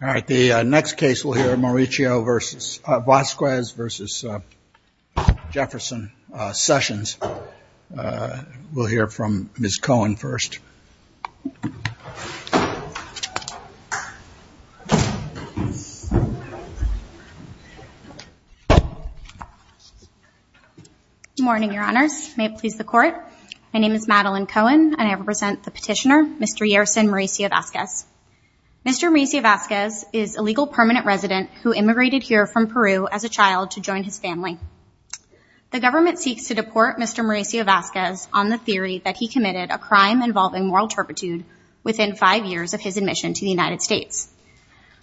All right, the next case we'll hear Mauricio versus, Vasquez versus Jefferson, Sessions. We'll hear from Ms. Cohen first. Good morning, Your Honors. May it please the Court. My name is Madeline Cohen, and I represent the petitioner, Mr. Yerson Mauricio-Vasquez. Mr. Mauricio-Vasquez is a legal permanent resident who immigrated here from Peru as a child to join his family. The government seeks to deport Mr. Mauricio-Vasquez on the theory that he committed a crime involving moral turpitude within five years of his admission to the United States.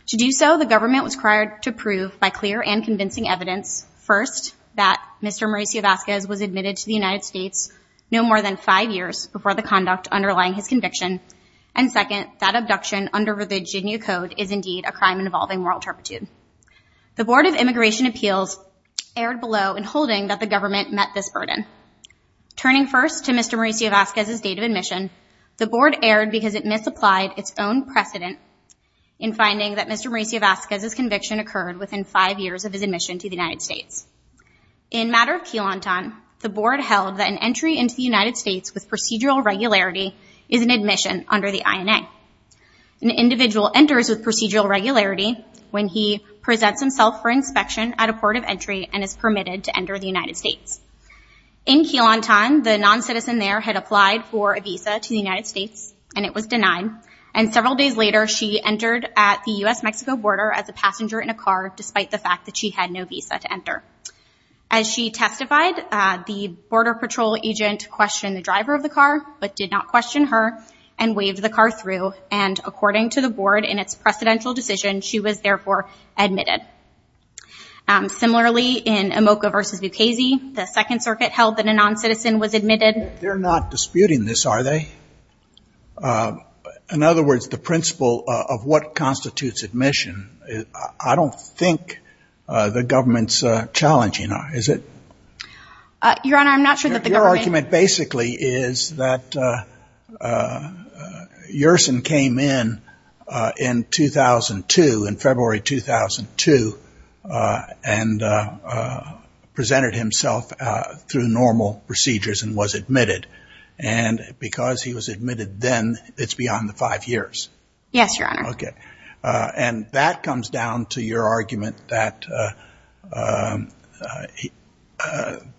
To do so, the government was required to prove by clear and convincing evidence, first, that Mr. Mauricio-Vasquez was admitted to the United States no more than five years before the conduct underlying his conviction, and second, that abduction under Virginia code is indeed a crime involving moral turpitude. The Board of Immigration Appeals erred below in holding that the government met this burden. Turning first to Mr. Mauricio-Vasquez's date of admission, the Board erred because it misapplied its own precedent in finding that Mr. Mauricio-Vasquez's conviction occurred within five years of his admission to the United States. In matter of Quilantan, the Board held that an entry into the United States with procedural regularity is an admission under the INA. An individual enters with procedural regularity when he presents himself for inspection at a port of entry and is permitted to enter the United States. In Quilantan, the non-citizen there had applied for a visa to the United States, and it was denied, and several days later, she entered at the U.S.-Mexico border as a passenger in a car, despite the fact that she had no visa to enter. As she testified, the Border Patrol agent questioned the driver of the car, but did not question her, and waved the car through, and according to the Board, in its precedential decision, she was therefore admitted. Similarly, in Amoca v. Bucasey, the Second Circuit held that a non-citizen was admitted. They're not disputing this, are they? In other words, the principle of what constitutes admission, I don't think the government's challenging, is it? Your Honor, I'm not sure that the government — Yersin came in in 2002, in February 2002, and presented himself through normal procedures and was admitted, and because he was admitted then, it's beyond the five years. Yes, Your Honor. Okay. And that comes down to your argument that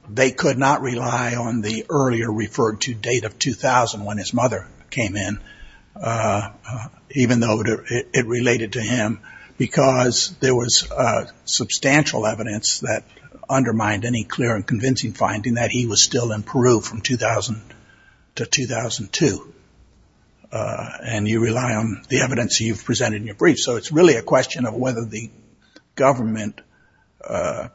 they could not rely on the earlier referred-to date of 2000, when his mother came in, even though it related to him, because there was substantial evidence that undermined any clear and convincing finding that he was still in Peru from 2000 to 2002, and you rely on the evidence you've presented in your brief. So it's really a question of whether the government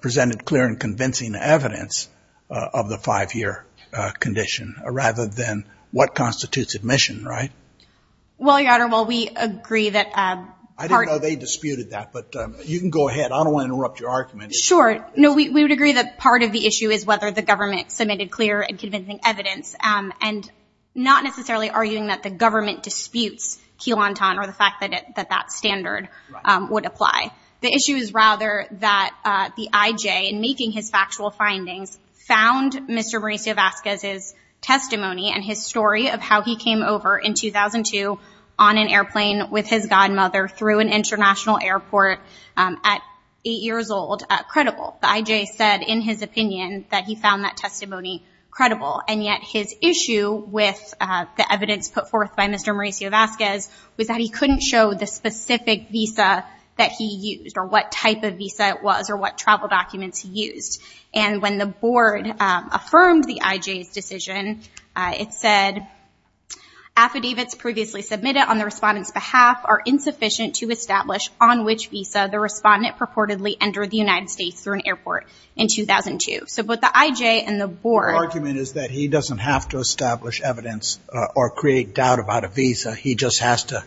presented clear and convincing evidence of the five-year condition, rather than what constitutes admission, right? Well, Your Honor, while we agree that part — I didn't know they disputed that, but you can go ahead. I don't want to interrupt your argument. Sure. No, we would agree that part of the issue is whether the government submitted clear and convincing evidence, and not necessarily arguing that the government disputes Quilantan or the fact that that standard would apply. The issue is rather that the IJ, in making his factual findings, found Mr. Mauricio Vasquez's testimony and his story of how he came over in 2002 on an airplane with his godmother through an international airport at eight years old credible. The IJ said in his opinion that he found that testimony credible, and yet his issue with the evidence put forth by Mr. Mauricio Vasquez was that he couldn't show the specific visa that he used, or what type of visa it was, or what travel documents he used. And when the board affirmed the IJ's decision, it said, Affidavits previously submitted on the respondent's behalf are insufficient to establish on which visa the respondent purportedly entered the United States through an airport in 2002. So both the IJ and the board — The argument is that he doesn't have to establish evidence or create doubt about a visa. He just has to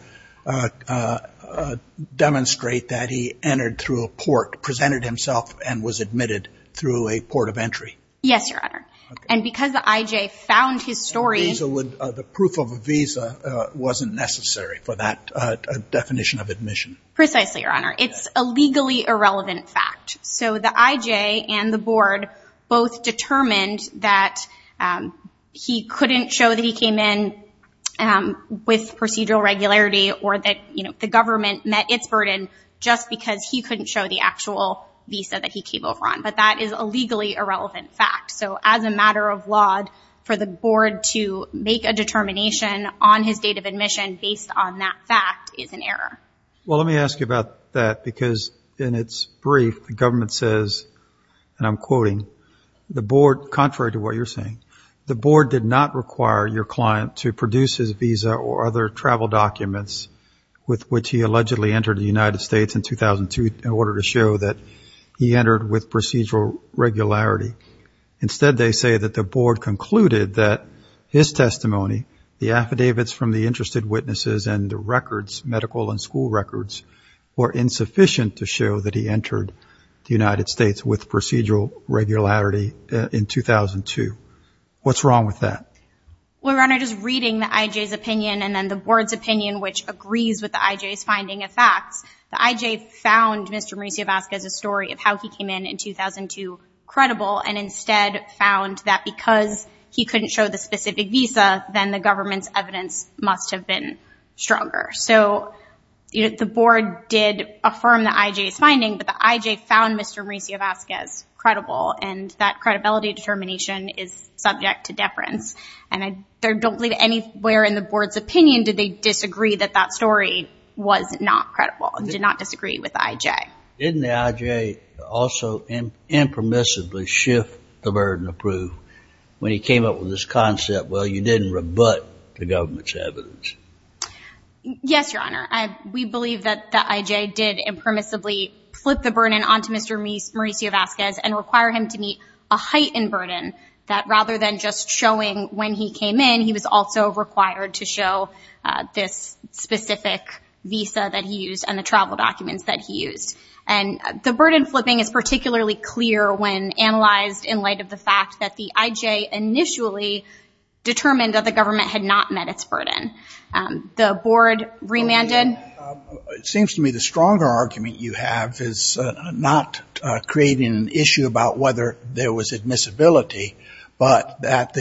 demonstrate that he entered through a port, presented himself, and was admitted through a port of entry. Yes, Your Honor. And because the IJ found his story — The proof of a visa wasn't necessary for that definition of admission. Precisely, Your Honor. It's a legally irrelevant fact. So the IJ and the board both determined that he couldn't show that he came in with procedural regularity, or that the government met its burden just because he couldn't show the actual visa that he came over on. But that is a legally irrelevant fact. So as a matter of law, for the board to make a determination on his date of admission based on that fact is an error. Well, let me ask you about that, because in its brief, the government says, and I'm quoting, the board — contrary to what you're saying — the board did not require your client to produce his visa or other travel documents with which he allegedly entered the United States in 2002 in order to show that he entered with procedural regularity. Instead, they say that the board concluded that his testimony, the affidavits from the interested witnesses, and the records, medical and school records, were insufficient to show that he entered the United States with procedural regularity in 2002. What's wrong with that? Well, Your Honor, just reading the IJ's opinion and then the board's opinion, which agrees with the IJ's finding of facts, the IJ found Mr. Mauricio Vasquez's story of how he came in in 2002 credible and instead found that because he couldn't show the specific visa, then the government's evidence must have been stronger. So the board did affirm the IJ's finding, but the IJ found Mr. Mauricio Vasquez credible, and that credibility determination is subject to deference. And I don't believe anywhere in the board's opinion did they disagree that that story was not credible and did not disagree with the IJ. Didn't the IJ also impermissibly shift the burden of proof when he came up with this concept, well, you didn't rebut the government's evidence? Yes, Your Honor. We believe that the IJ did impermissibly flip the burden onto Mr. Mauricio Vasquez and require him to meet a heightened burden that rather than just showing when he came in, he was also required to show this specific visa that he used and the travel documents that he used. And the burden flipping is particularly clear when analyzed in light of the fact that the IJ initially determined that the government had not met its burden. The board remanded. It seems to me the stronger argument you have is not creating an issue about whether there was admissibility, but that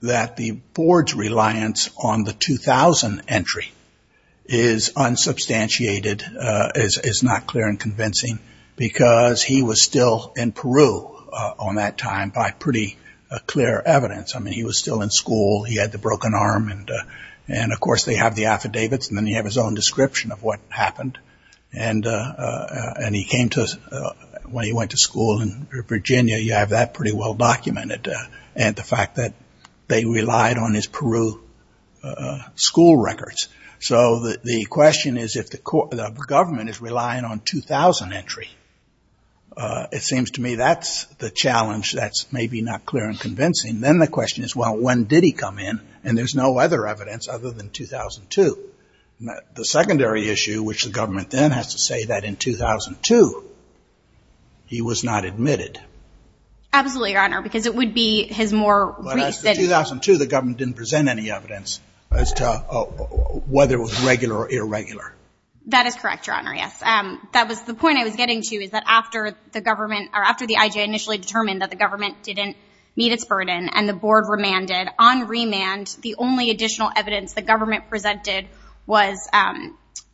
the board's reliance on the 2000 entry is unsubstantiated, is not clear and convincing, because he was still in Peru on that time by pretty clear evidence. I mean, he was still in school. He had the broken arm. And, of course, they have the affidavits. And then you have his own description of what happened. And he came to us when he went to school in Virginia. You have that pretty well documented. And the fact that they relied on his Peru school records. So the question is if the government is relying on 2000 entry. And then the question is, well, when did he come in? And there's no other evidence other than 2002. The secondary issue, which the government then has to say that in 2002 he was not admitted. Absolutely, Your Honor, because it would be his more recent. But after 2002 the government didn't present any evidence as to whether it was regular or irregular. That is correct, Your Honor, yes. That was the point I was getting to, is that after the government, or after the IJ initially determined that the government didn't meet its burden and the board remanded, on remand the only additional evidence the government presented was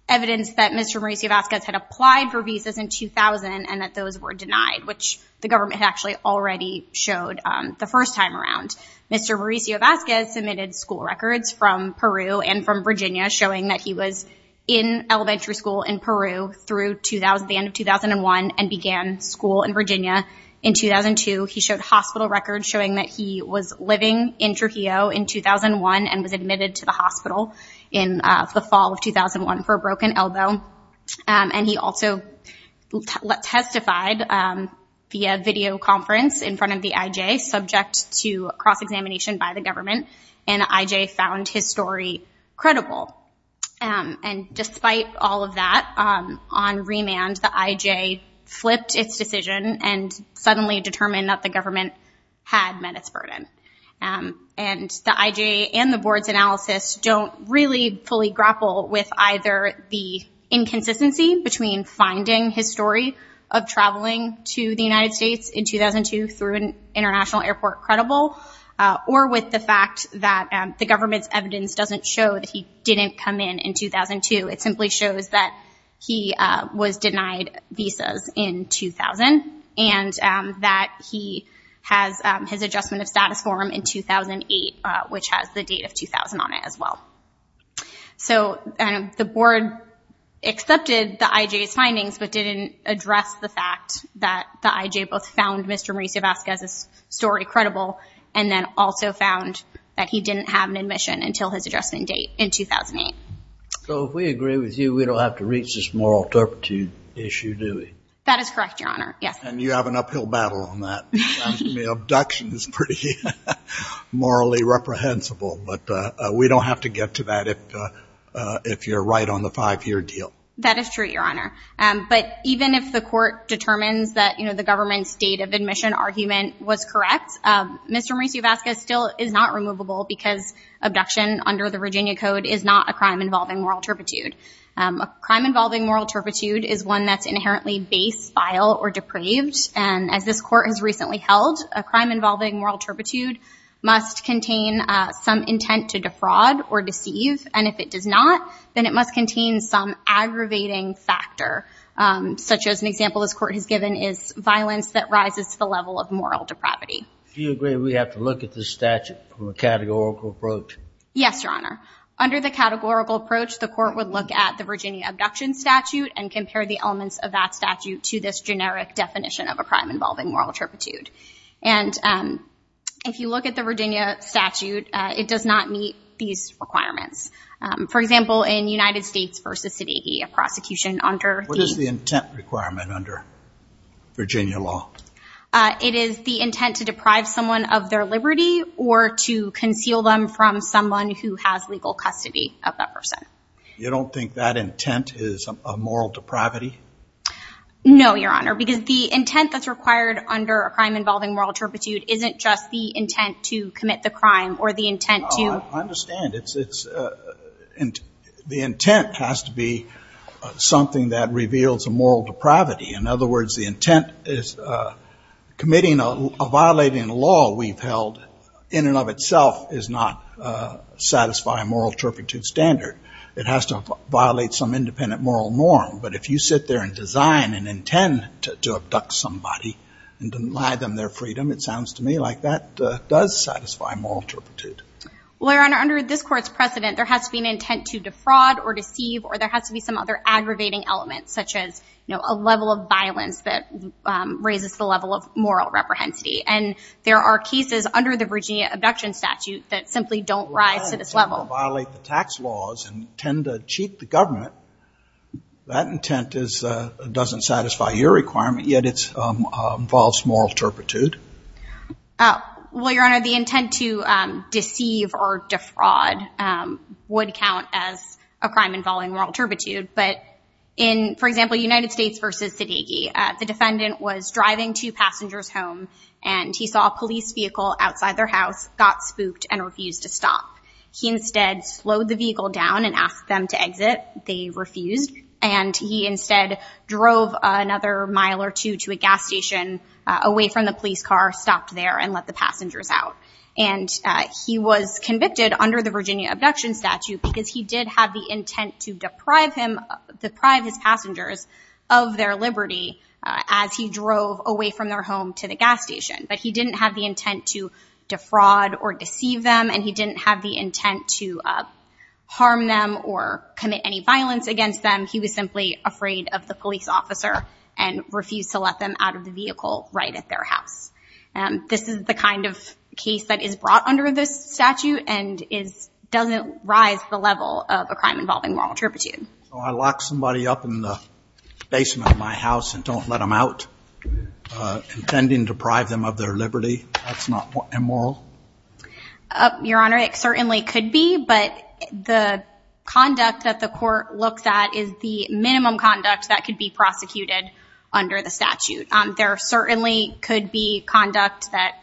evidence that Mr. Mauricio Vasquez had applied for visas in 2000 and that those were denied, which the government actually already showed the first time around. Mr. Mauricio Vasquez submitted school records from Peru and from Virginia, showing that he was in elementary school in Peru through the end of 2001 and began school in Virginia in 2002. He showed hospital records showing that he was living in Trujillo in 2001 and was admitted to the hospital in the fall of 2001 for a broken elbow. And he also testified via videoconference in front of the IJ, subject to cross-examination by the government. And the IJ found his story credible. And despite all of that, on remand the IJ flipped its decision and suddenly determined that the government had met its burden. And the IJ and the board's analysis don't really fully grapple with either the inconsistency between finding his story of traveling to the United States in 2002 through an international airport credible or with the fact that the government's evidence doesn't show that he didn't come in in 2002. It simply shows that he was denied visas in 2000 and that he has his adjustment of status form in 2008, which has the date of 2000 on it as well. So the board accepted the IJ's findings, but didn't address the fact that the IJ both found Mr. Mauricio Vasquez's story credible and then also found that he didn't have an admission until his adjustment date in 2008. So if we agree with you, we don't have to reach this moral turpitude issue, do we? That is correct, Your Honor. Yes. And you have an uphill battle on that. It sounds to me abduction is pretty morally reprehensible, but we don't have to get to that if you're right on the five-year deal. That is true, Your Honor. But even if the court determines that the government's date of admission argument was correct, Mr. Mauricio Vasquez still is not removable because abduction under the Virginia Code is not a crime involving moral turpitude. A crime involving moral turpitude is one that's inherently base, vile, or depraved. And as this court has recently held, a crime involving moral turpitude must contain some intent to defraud or deceive. And if it does not, then it must contain some aggravating factor, such as an example this court has given is violence that rises to the level of moral depravity. Do you agree we have to look at this statute from a categorical approach? Yes, Your Honor. Under the categorical approach, the court would look at the Virginia abduction statute and compare the elements of that statute to this generic definition of a crime involving moral turpitude. And if you look at the Virginia statute, it does not meet these requirements. For example, in United States v. Siddiqi, a prosecution under the- What is the intent requirement under Virginia law? It is the intent to deprive someone of their liberty or to conceal them from someone who has legal custody of that person. You don't think that intent is a moral depravity? No, Your Honor, because the intent that's required under a crime involving moral turpitude isn't just the intent to commit the crime or the intent to- I understand. The intent has to be something that reveals a moral depravity. In other words, the intent is committing a violating law we've held in and of itself is not satisfying moral turpitude standard. It has to violate some independent moral norm. But if you sit there and design an intent to abduct somebody and deny them their freedom, it sounds to me like that does satisfy moral turpitude. Well, Your Honor, under this Court's precedent, there has to be an intent to defraud or deceive or there has to be some other aggravating elements, such as a level of violence that raises the level of moral reprehensibility. And there are cases under the Virginia abduction statute that simply don't rise to this level. If you violate the tax laws and tend to cheat the government, that intent doesn't satisfy your requirement, yet it involves moral turpitude? Well, Your Honor, the intent to deceive or defraud would count as a crime involving moral turpitude. But in, for example, United States v. Zdehegi, the defendant was driving two passengers home and he saw a police vehicle outside their house, got spooked, and refused to stop. He instead slowed the vehicle down and asked them to exit. They refused. And he instead drove another mile or two to a gas station away from the police car, stopped there, and let the passengers out. And he was convicted under the Virginia abduction statute because he did have the intent to deprive him, deprive his passengers of their liberty as he drove away from their home to the gas station. But he didn't have the intent to defraud or deceive them, and he didn't have the intent to harm them or commit any violence against them. He was simply afraid of the police officer and refused to let them out of the vehicle right at their house. This is the kind of case that is brought under this statute and doesn't rise to the level of a crime involving moral turpitude. So I lock somebody up in the basement of my house and don't let them out, intending to deprive them of their liberty? That's not immoral? Your Honor, it certainly could be, but the conduct that the court looks at is the minimum conduct that could be prosecuted under the statute. There certainly could be conduct that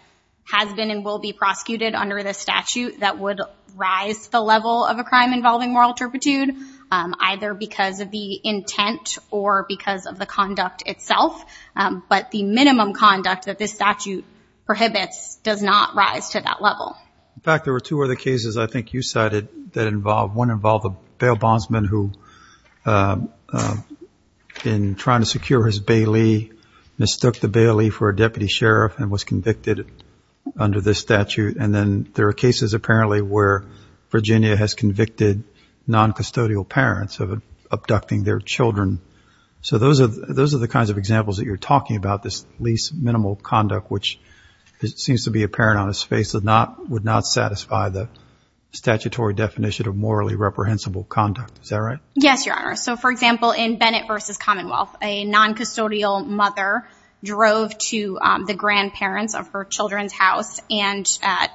has been and will be prosecuted under this statute that would rise to the level of a crime involving moral turpitude. Either because of the intent or because of the conduct itself. But the minimum conduct that this statute prohibits does not rise to that level. In fact, there were two other cases I think you cited that involved one involved a bail bondsman who, in trying to secure his bailee, mistook the bailee for a deputy sheriff and was convicted under this statute. And then there are cases apparently where Virginia has convicted non-custodial parents of abducting their children. So those are those are the kinds of examples that you're talking about. This least minimal conduct, which seems to be apparent on his face, would not satisfy the statutory definition of morally reprehensible conduct. Is that right? Yes, Your Honor. So, for example, in Bennett v. Commonwealth, a non-custodial mother drove to the grandparents of her children's house and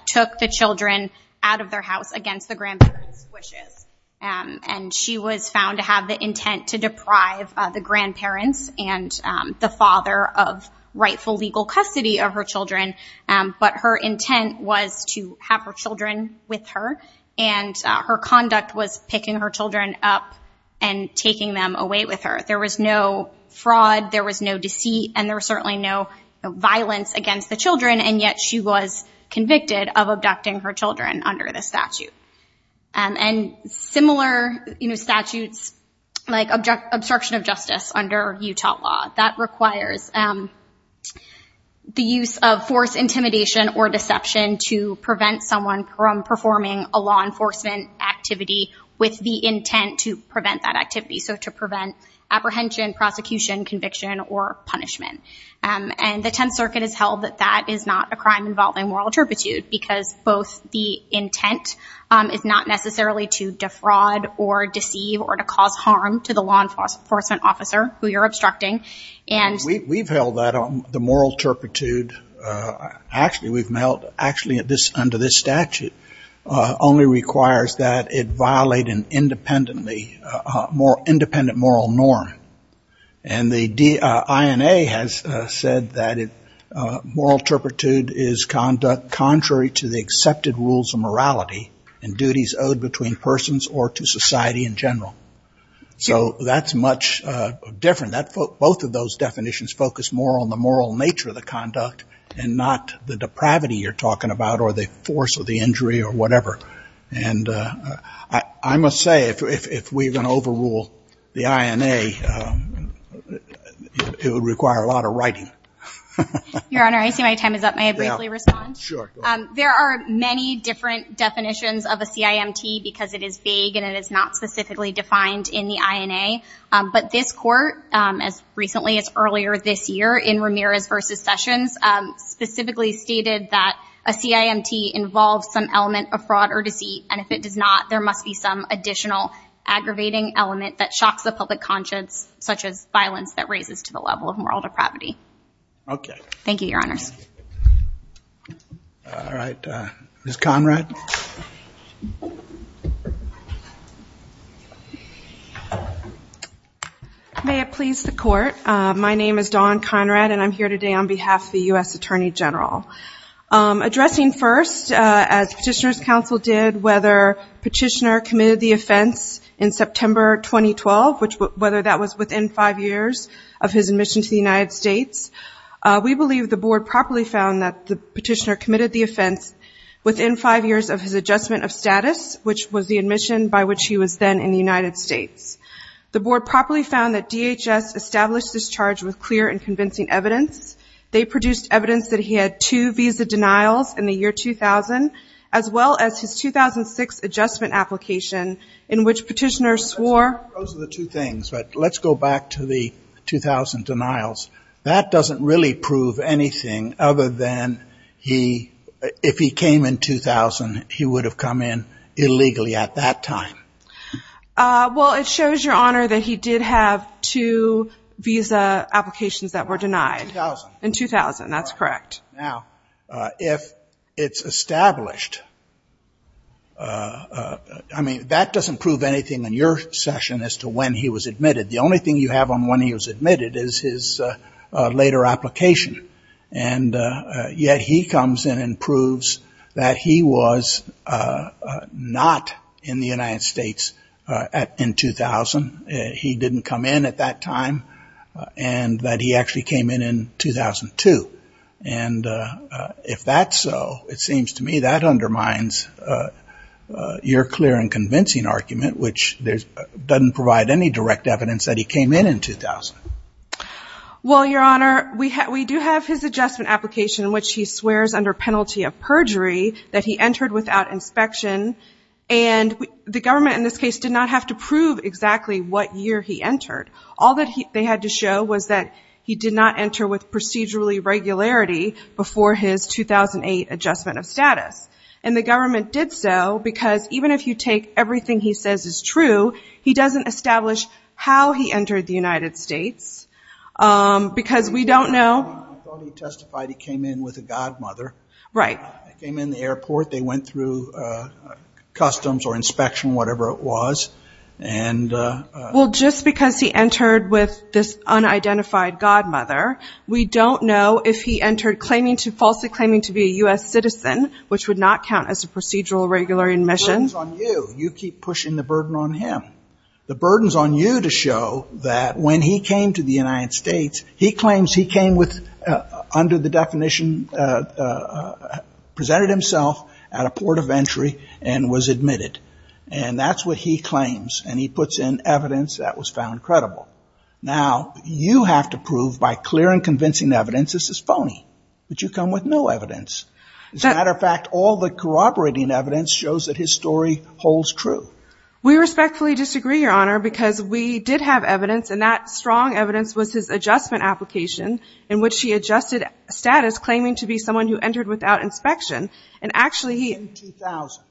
took the children out of their house against the grandparents' wishes. And she was found to have the intent to deprive the grandparents and the father of rightful legal custody of her children. But her intent was to have her children with her. And her conduct was picking her children up and taking them away with her. There was no fraud. There was no deceit. And there was certainly no violence against the children. And yet she was convicted of abducting her children under this statute. And similar statutes, like obstruction of justice under Utah law, that requires the use of force, intimidation, or deception to prevent someone from performing a law enforcement activity with the intent to prevent that activity. So to prevent apprehension, prosecution, conviction, or punishment. And the Tenth Circuit has held that that is not a crime involving moral turpitude because both the intent is not necessarily to defraud or deceive or to cause harm to the law enforcement officer who you're obstructing. We've held that the moral turpitude actually we've held actually under this statute only requires that it violate an independent moral norm. And the INA has said that moral turpitude is conduct contrary to the accepted rules of morality and duties owed between persons or to society in general. So that's much different. Both of those definitions focus more on the moral nature of the conduct and not the depravity you're talking about or the force of the injury or whatever. And I must say, if we're going to overrule the INA, it would require a lot of writing. Your Honor, I see my time is up. May I briefly respond? Sure. There are many different definitions of a CIMT because it is vague and it is not specifically defined in the INA. But this court, as recently as earlier this year in Ramirez v. Sessions, specifically stated that a CIMT involves some element of fraud or deceit. And if it does not, there must be some additional aggravating element that shocks the public conscience, such as violence that raises to the level of moral depravity. Okay. Thank you, Your Honors. All right. Ms. Conrad? May it please the Court. My name is Dawn Conrad and I'm here today on behalf of the U.S. Attorney General. Addressing first, as Petitioner's Counsel did, whether Petitioner committed the offense in September 2012, whether that was within five years of his admission to the United States, we believe the Board properly found that Petitioner committed the offense within five years of his adjustment of status, which was the admission by which he was then in the United States. The Board properly found that DHS established this charge with clear and convincing evidence. They produced evidence that he had two visa denials in the year 2000, as well as his 2006 adjustment application in which Petitioner swore. Those are the two things. But let's go back to the 2000 denials. That doesn't really prove anything other than if he came in 2000, he would have come in illegally at that time. Well, it shows, Your Honor, that he did have two visa applications that were denied. In 2000. In 2000, that's correct. Now, if it's established, I mean, that doesn't prove anything in your session as to when he was admitted. The only thing you have on when he was admitted is his later application. And yet he comes in and proves that he was not in the United States in 2000. He didn't come in at that time and that he actually came in in 2002. And if that's so, it seems to me that undermines your clear and convincing argument, which doesn't provide any direct evidence that he came in in 2000. Well, Your Honor, we do have his adjustment application in which he swears under penalty of perjury that he entered without inspection. And the government in this case did not have to prove exactly what year he entered. All that they had to show was that he did not enter with procedurally regularity before his 2008 adjustment of status. And the government did so because even if you take everything he says is true, he doesn't establish how he entered the United States because we don't know. I thought he testified he came in with a godmother. Right. He came in the airport. They went through customs or inspection, whatever it was. Well, just because he entered with this unidentified godmother, we don't know if he entered falsely claiming to be a U.S. citizen, which would not count as a procedural regular admission. The burden's on you. You keep pushing the burden on him. The burden's on you to show that when he came to the United States, he claims he came with, under the definition, presented himself at a port of entry and was admitted. And that's what he claims, and he puts in evidence that was found credible. Now, you have to prove by clear and convincing evidence this is phony. But you come with no evidence. As a matter of fact, all the corroborating evidence shows that his story holds true. We respectfully disagree, Your Honor, because we did have evidence, and that strong evidence was his adjustment application in which he adjusted status, claiming to be someone who entered without inspection. And actually he – In 2000,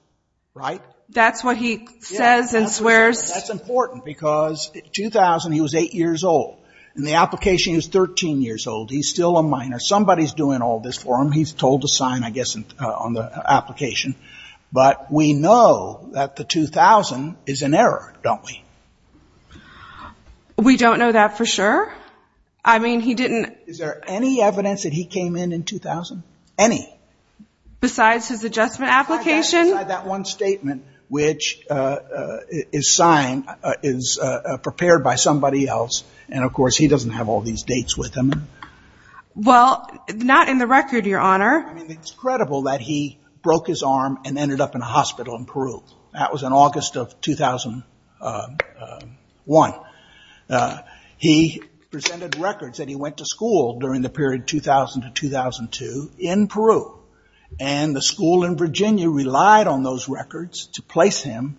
right? That's what he says and swears. That's important because in 2000 he was 8 years old, and the application is 13 years old. He's still a minor. Somebody's doing all this for him. He's told to sign, I guess, on the application. But we know that the 2000 is an error, don't we? We don't know that for sure. I mean, he didn't – Is there any evidence that he came in in 2000? Any? Besides his adjustment application? Besides that one statement, which is signed, is prepared by somebody else. And, of course, he doesn't have all these dates with him. Well, not in the record, Your Honor. It's credible that he broke his arm and ended up in a hospital in Peru. That was in August of 2001. He presented records that he went to school during the period 2000 to 2002 in Peru. And the school in Virginia relied on those records to place him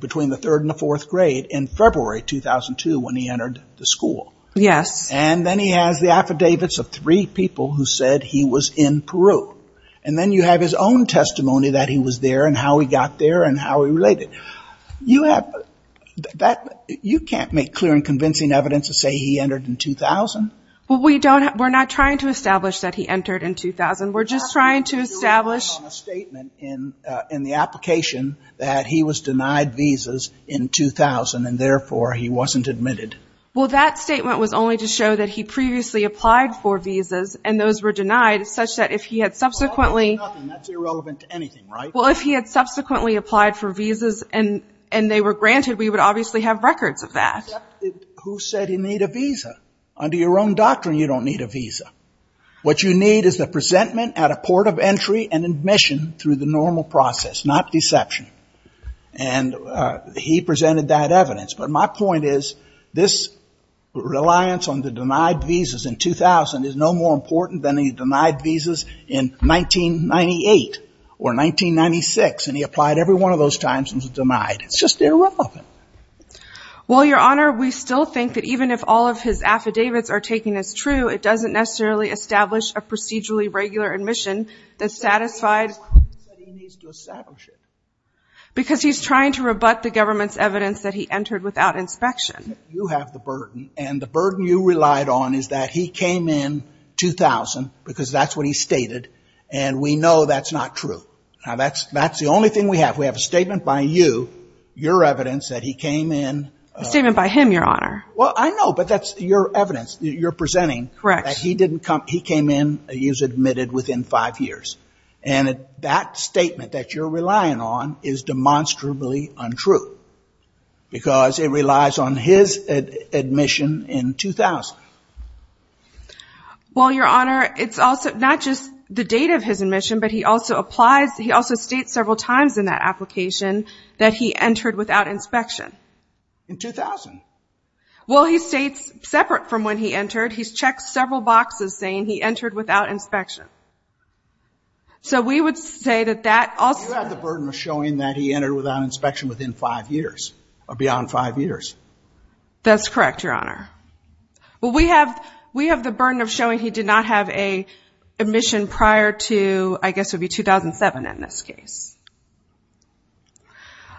between the third and the fourth grade in February 2002 when he entered the school. Yes. And then he has the affidavits of three people who said he was in Peru. And then you have his own testimony that he was there and how he got there and how he related. You have – you can't make clear and convincing evidence to say he entered in 2000. Well, we don't – we're not trying to establish that he entered in 2000. We're just trying to establish – You have to do it based on a statement in the application that he was denied visas in 2000 and, therefore, he wasn't admitted. Well, that statement was only to show that he previously applied for visas and those were denied such that if he had subsequently – That's irrelevant to anything, right? Well, if he had subsequently applied for visas and they were granted, we would obviously have records of that. Except who said he need a visa? Under your own doctrine, you don't need a visa. What you need is the presentment at a port of entry and admission through the normal process, not deception. And he presented that evidence. But my point is this reliance on the denied visas in 2000 is no more important than the denied visas in 1998 or 1996 and he applied every one of those times and was denied. It's just irrelevant. Well, Your Honor, we still think that even if all of his affidavits are taken as true, it doesn't necessarily establish a procedurally regular admission that satisfied – He said he needs to establish it. Because he's trying to rebut the government's evidence that he entered without inspection. You have the burden and the burden you relied on is that he came in 2000 because that's what he stated and we know that's not true. Now, that's the only thing we have. We have a statement by you, your evidence that he came in – A statement by him, Your Honor. Well, I know, but that's your evidence. You're presenting that he came in, he was admitted within five years. And that statement that you're relying on is demonstrably untrue because it relies on his admission in 2000. Well, Your Honor, it's also not just the date of his admission, but he also applies – he also states several times in that application that he entered without inspection. In 2000. Well, he states separate from when he entered. He's checked several boxes saying he entered without inspection. So we would say that that also – You have the burden of showing that he entered without inspection within five years or beyond five years. That's correct, Your Honor. Well, we have the burden of showing he did not have a admission prior to, I guess it would be 2007 in this case.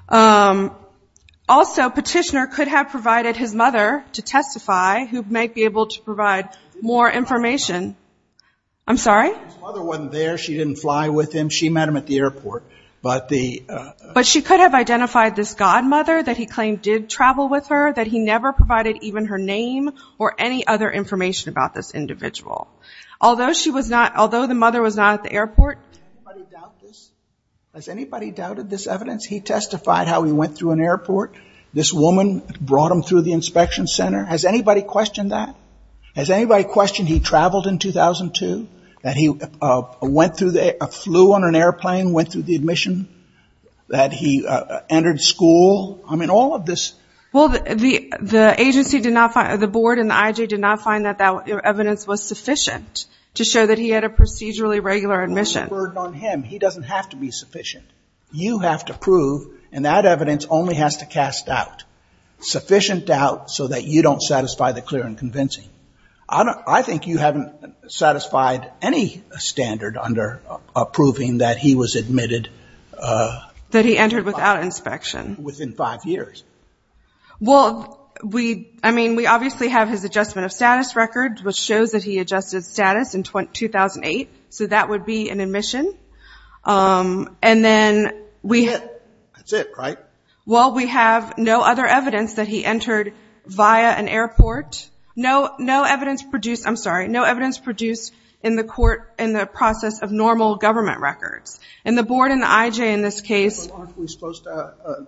Also, petitioner could have provided his mother to testify who might be able to provide more information. I'm sorry? His mother wasn't there. She didn't fly with him. She met him at the airport. But she could have identified this godmother that he claimed did travel with her, that he never provided even her name or any other information about this individual. Although the mother was not at the airport. Has anybody doubted this evidence? He testified how he went through an airport. This woman brought him through the inspection center. Has anybody questioned that? Has anybody questioned he traveled in 2002, that he flew on an airplane, went through the admission, that he entered school? I mean, all of this. Well, the agency did not find – the board and the IJ did not find that that evidence was sufficient to show that he had a procedurally regular admission. Well, there's a burden on him. He doesn't have to be sufficient. You have to prove, and that evidence only has to cast doubt, sufficient doubt so that you don't satisfy the clear and convincing. I think you haven't satisfied any standard under approving that he was admitted. That he entered without inspection. Within five years. Well, I mean, we obviously have his adjustment of status record, which shows that he adjusted status in 2008. So that would be an admission. And then we – That's it. That's it, right? Well, we have no other evidence that he entered via an airport. No evidence produced – I'm sorry. No evidence produced in the court in the process of normal government records. And the board and the IJ in this case – But aren't we supposed to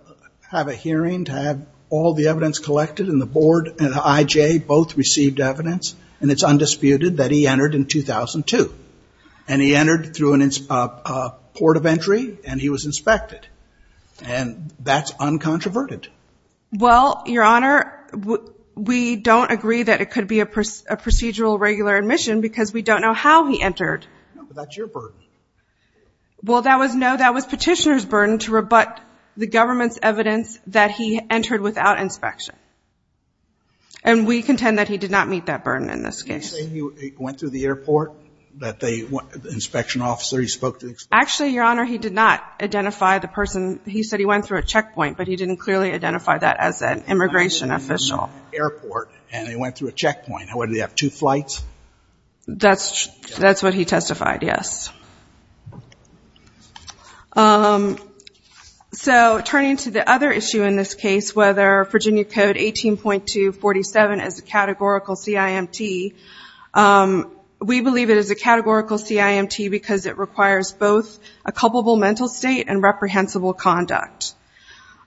have a hearing to have all the evidence collected and the board and the IJ both received evidence, and it's undisputed that he entered in 2002. And he entered through a port of entry, and he was inspected. And that's uncontroverted. Well, Your Honor, we don't agree that it could be a procedural regular admission because we don't know how he entered. No, but that's your burden. Well, that was petitioner's burden to rebut the government's evidence that he entered without inspection. And we contend that he did not meet that burden in this case. Are you saying he went through the airport? That the inspection officer, he spoke to the inspector? Actually, Your Honor, he did not identify the person. He said he went through a checkpoint, but he didn't clearly identify that as an immigration official. He went through the airport, and he went through a checkpoint. What, did he have two flights? That's what he testified, yes. So turning to the other issue in this case, whether Virginia Code 18.247 is a categorical CIMT, we believe it is a categorical CIMT because it requires both a culpable mental state and reprehensible conduct.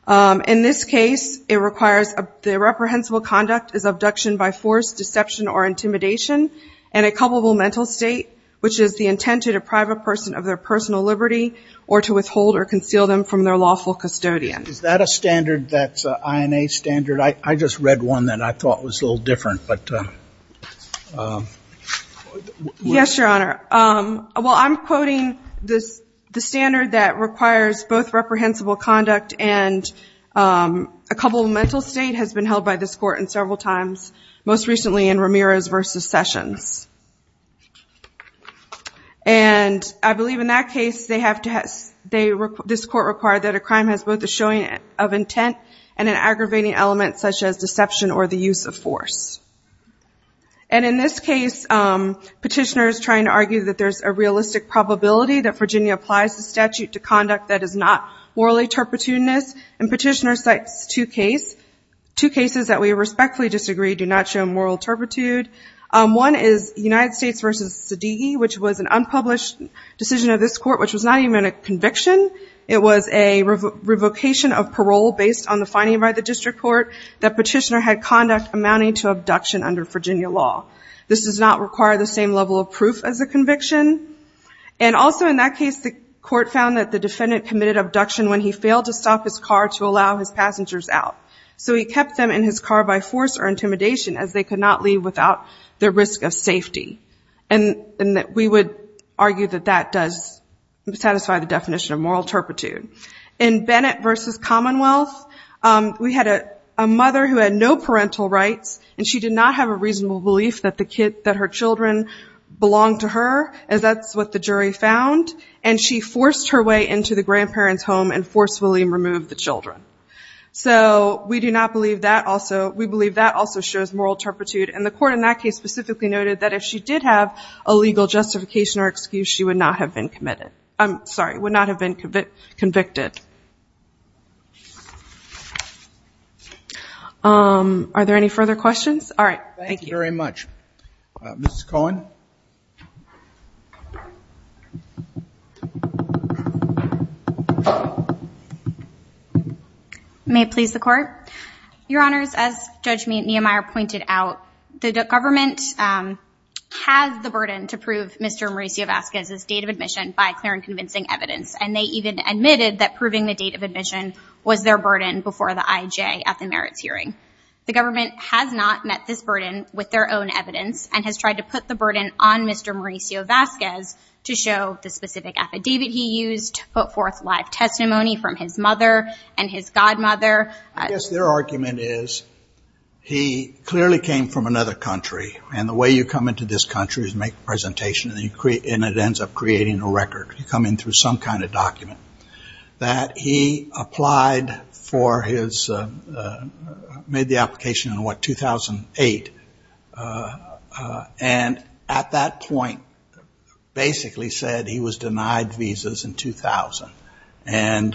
In this case, it requires the reprehensible conduct as abduction by force, deception, or intimidation, and a culpable mental state, which is the intent to deprive a person of their personal liberty or to withhold or conceal them from their lawful custodian. Is that a standard that's an INA standard? I just read one that I thought was a little different. Yes, Your Honor. Well, I'm quoting the standard that requires both reprehensible conduct and a culpable mental state has been held by this court in several times, most recently in Ramirez v. Sessions. And I believe in that case, this court required that a crime has both a showing of intent and an aggravating element such as deception or the use of force. And in this case, Petitioner is trying to argue that there's a realistic probability that Virginia applies the statute to conduct that is not morally turpitudinous, and Petitioner cites two cases that we respectfully disagree do not show moral turpitude. One is United States v. Zadighi, which was an unpublished decision of this court, which was not even a conviction. It was a revocation of parole based on the finding by the district court that Petitioner had conduct amounting to abduction under Virginia law. This does not require the same level of proof as a conviction. And also in that case, the court found that the defendant committed abduction when he failed to stop his car to allow his passengers out. So he kept them in his car by force or intimidation as they could not leave without the risk of safety. And we would argue that that does satisfy the definition of moral turpitude. In Bennett v. Commonwealth, we had a mother who had no parental rights, and she did not have a reasonable belief that her children belonged to her, as that's what the jury found, and she forced her way into the grandparents' home and forcefully removed the children. So we do not believe that also. We believe that also shows moral turpitude, and the court in that case specifically noted that if she did have a legal justification or excuse, she would not have been convicted. Are there any further questions? All right, thank you. Thank you very much. Ms. Cohen. May it please the Court. Your Honors, as Judge Nehemiah pointed out, the government has the burden to prove Mr. Mauricio Vasquez's date of admission by clear and convincing evidence, and they even admitted that proving the date of admission was their burden before the IJ at the merits hearing. The government has not met this burden with their own evidence and has tried to put the burden on Mr. Mauricio Vasquez to show the specific affidavit he used, put forth live testimony from his mother and his godmother. I guess their argument is he clearly came from another country, and the way you come into this country is make a presentation, and it ends up creating a record. You come in through some kind of document. That he applied for his... made the application in, what, 2008, and at that point basically said he was denied visas in 2000 and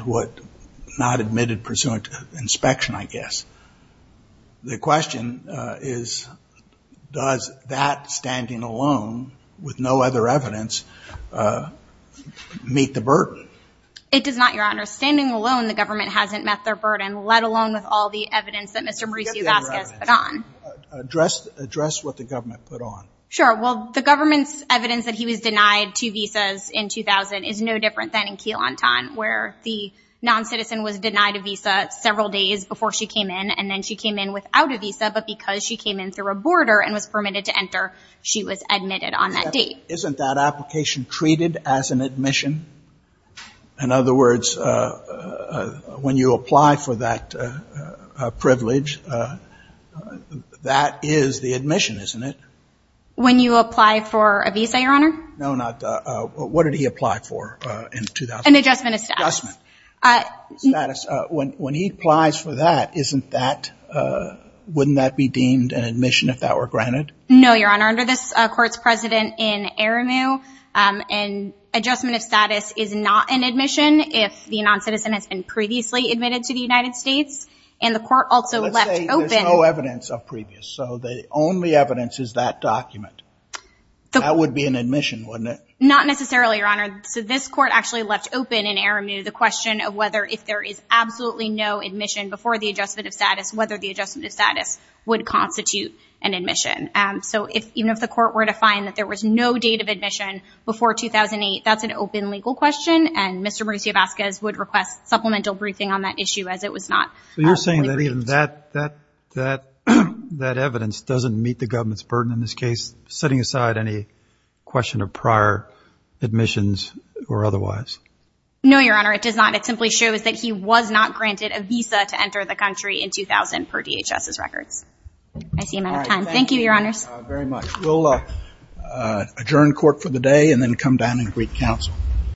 not admitted pursuant to inspection, I guess. The question is, does that standing alone with no other evidence meet the burden? It does not, Your Honor. Standing alone, the government hasn't met their burden, let alone with all the evidence that Mr. Mauricio Vasquez put on. Address what the government put on. Sure, well, the government's evidence that he was denied two visas in 2000 is no different than in Quilantan, where the non-citizen was denied a visa several days before she came in, and then she came in without a visa, but because she came in through a border and was permitted to enter, she was admitted on that date. Isn't that application treated as an admission? In other words, when you apply for that privilege, that is the admission, isn't it? When you apply for a visa, Your Honor? No, not that. What did he apply for in 2000? An adjustment of status. Adjustment. Status. When he applies for that, wouldn't that be deemed an admission if that were granted? No, Your Honor. Under this court's precedent in Aremu, an adjustment of status is not an admission if the non-citizen has been previously admitted to the United States, and the court also left open... Let's say there's no evidence of previous, so the only evidence is that document. That would be an admission, wouldn't it? Not necessarily, Your Honor. So this court actually left open in Aremu the question of whether if there is absolutely no admission before the adjustment of status, whether the adjustment of status would constitute an admission. So even if the court were to find that there was no date of admission before 2008, that's an open legal question, and Mr. Mauricio Vasquez would request supplemental briefing on that issue as it was not... So you're saying that even that evidence doesn't meet the government's burden in this case of setting aside any question of prior admissions or otherwise? No, Your Honor. It does not. It simply shows that he was not granted a visa to enter the country in 2000 per DHS's records. I see I'm out of time. Thank you, Your Honors. Very much. We'll adjourn court for the day and then come down and greet counsel.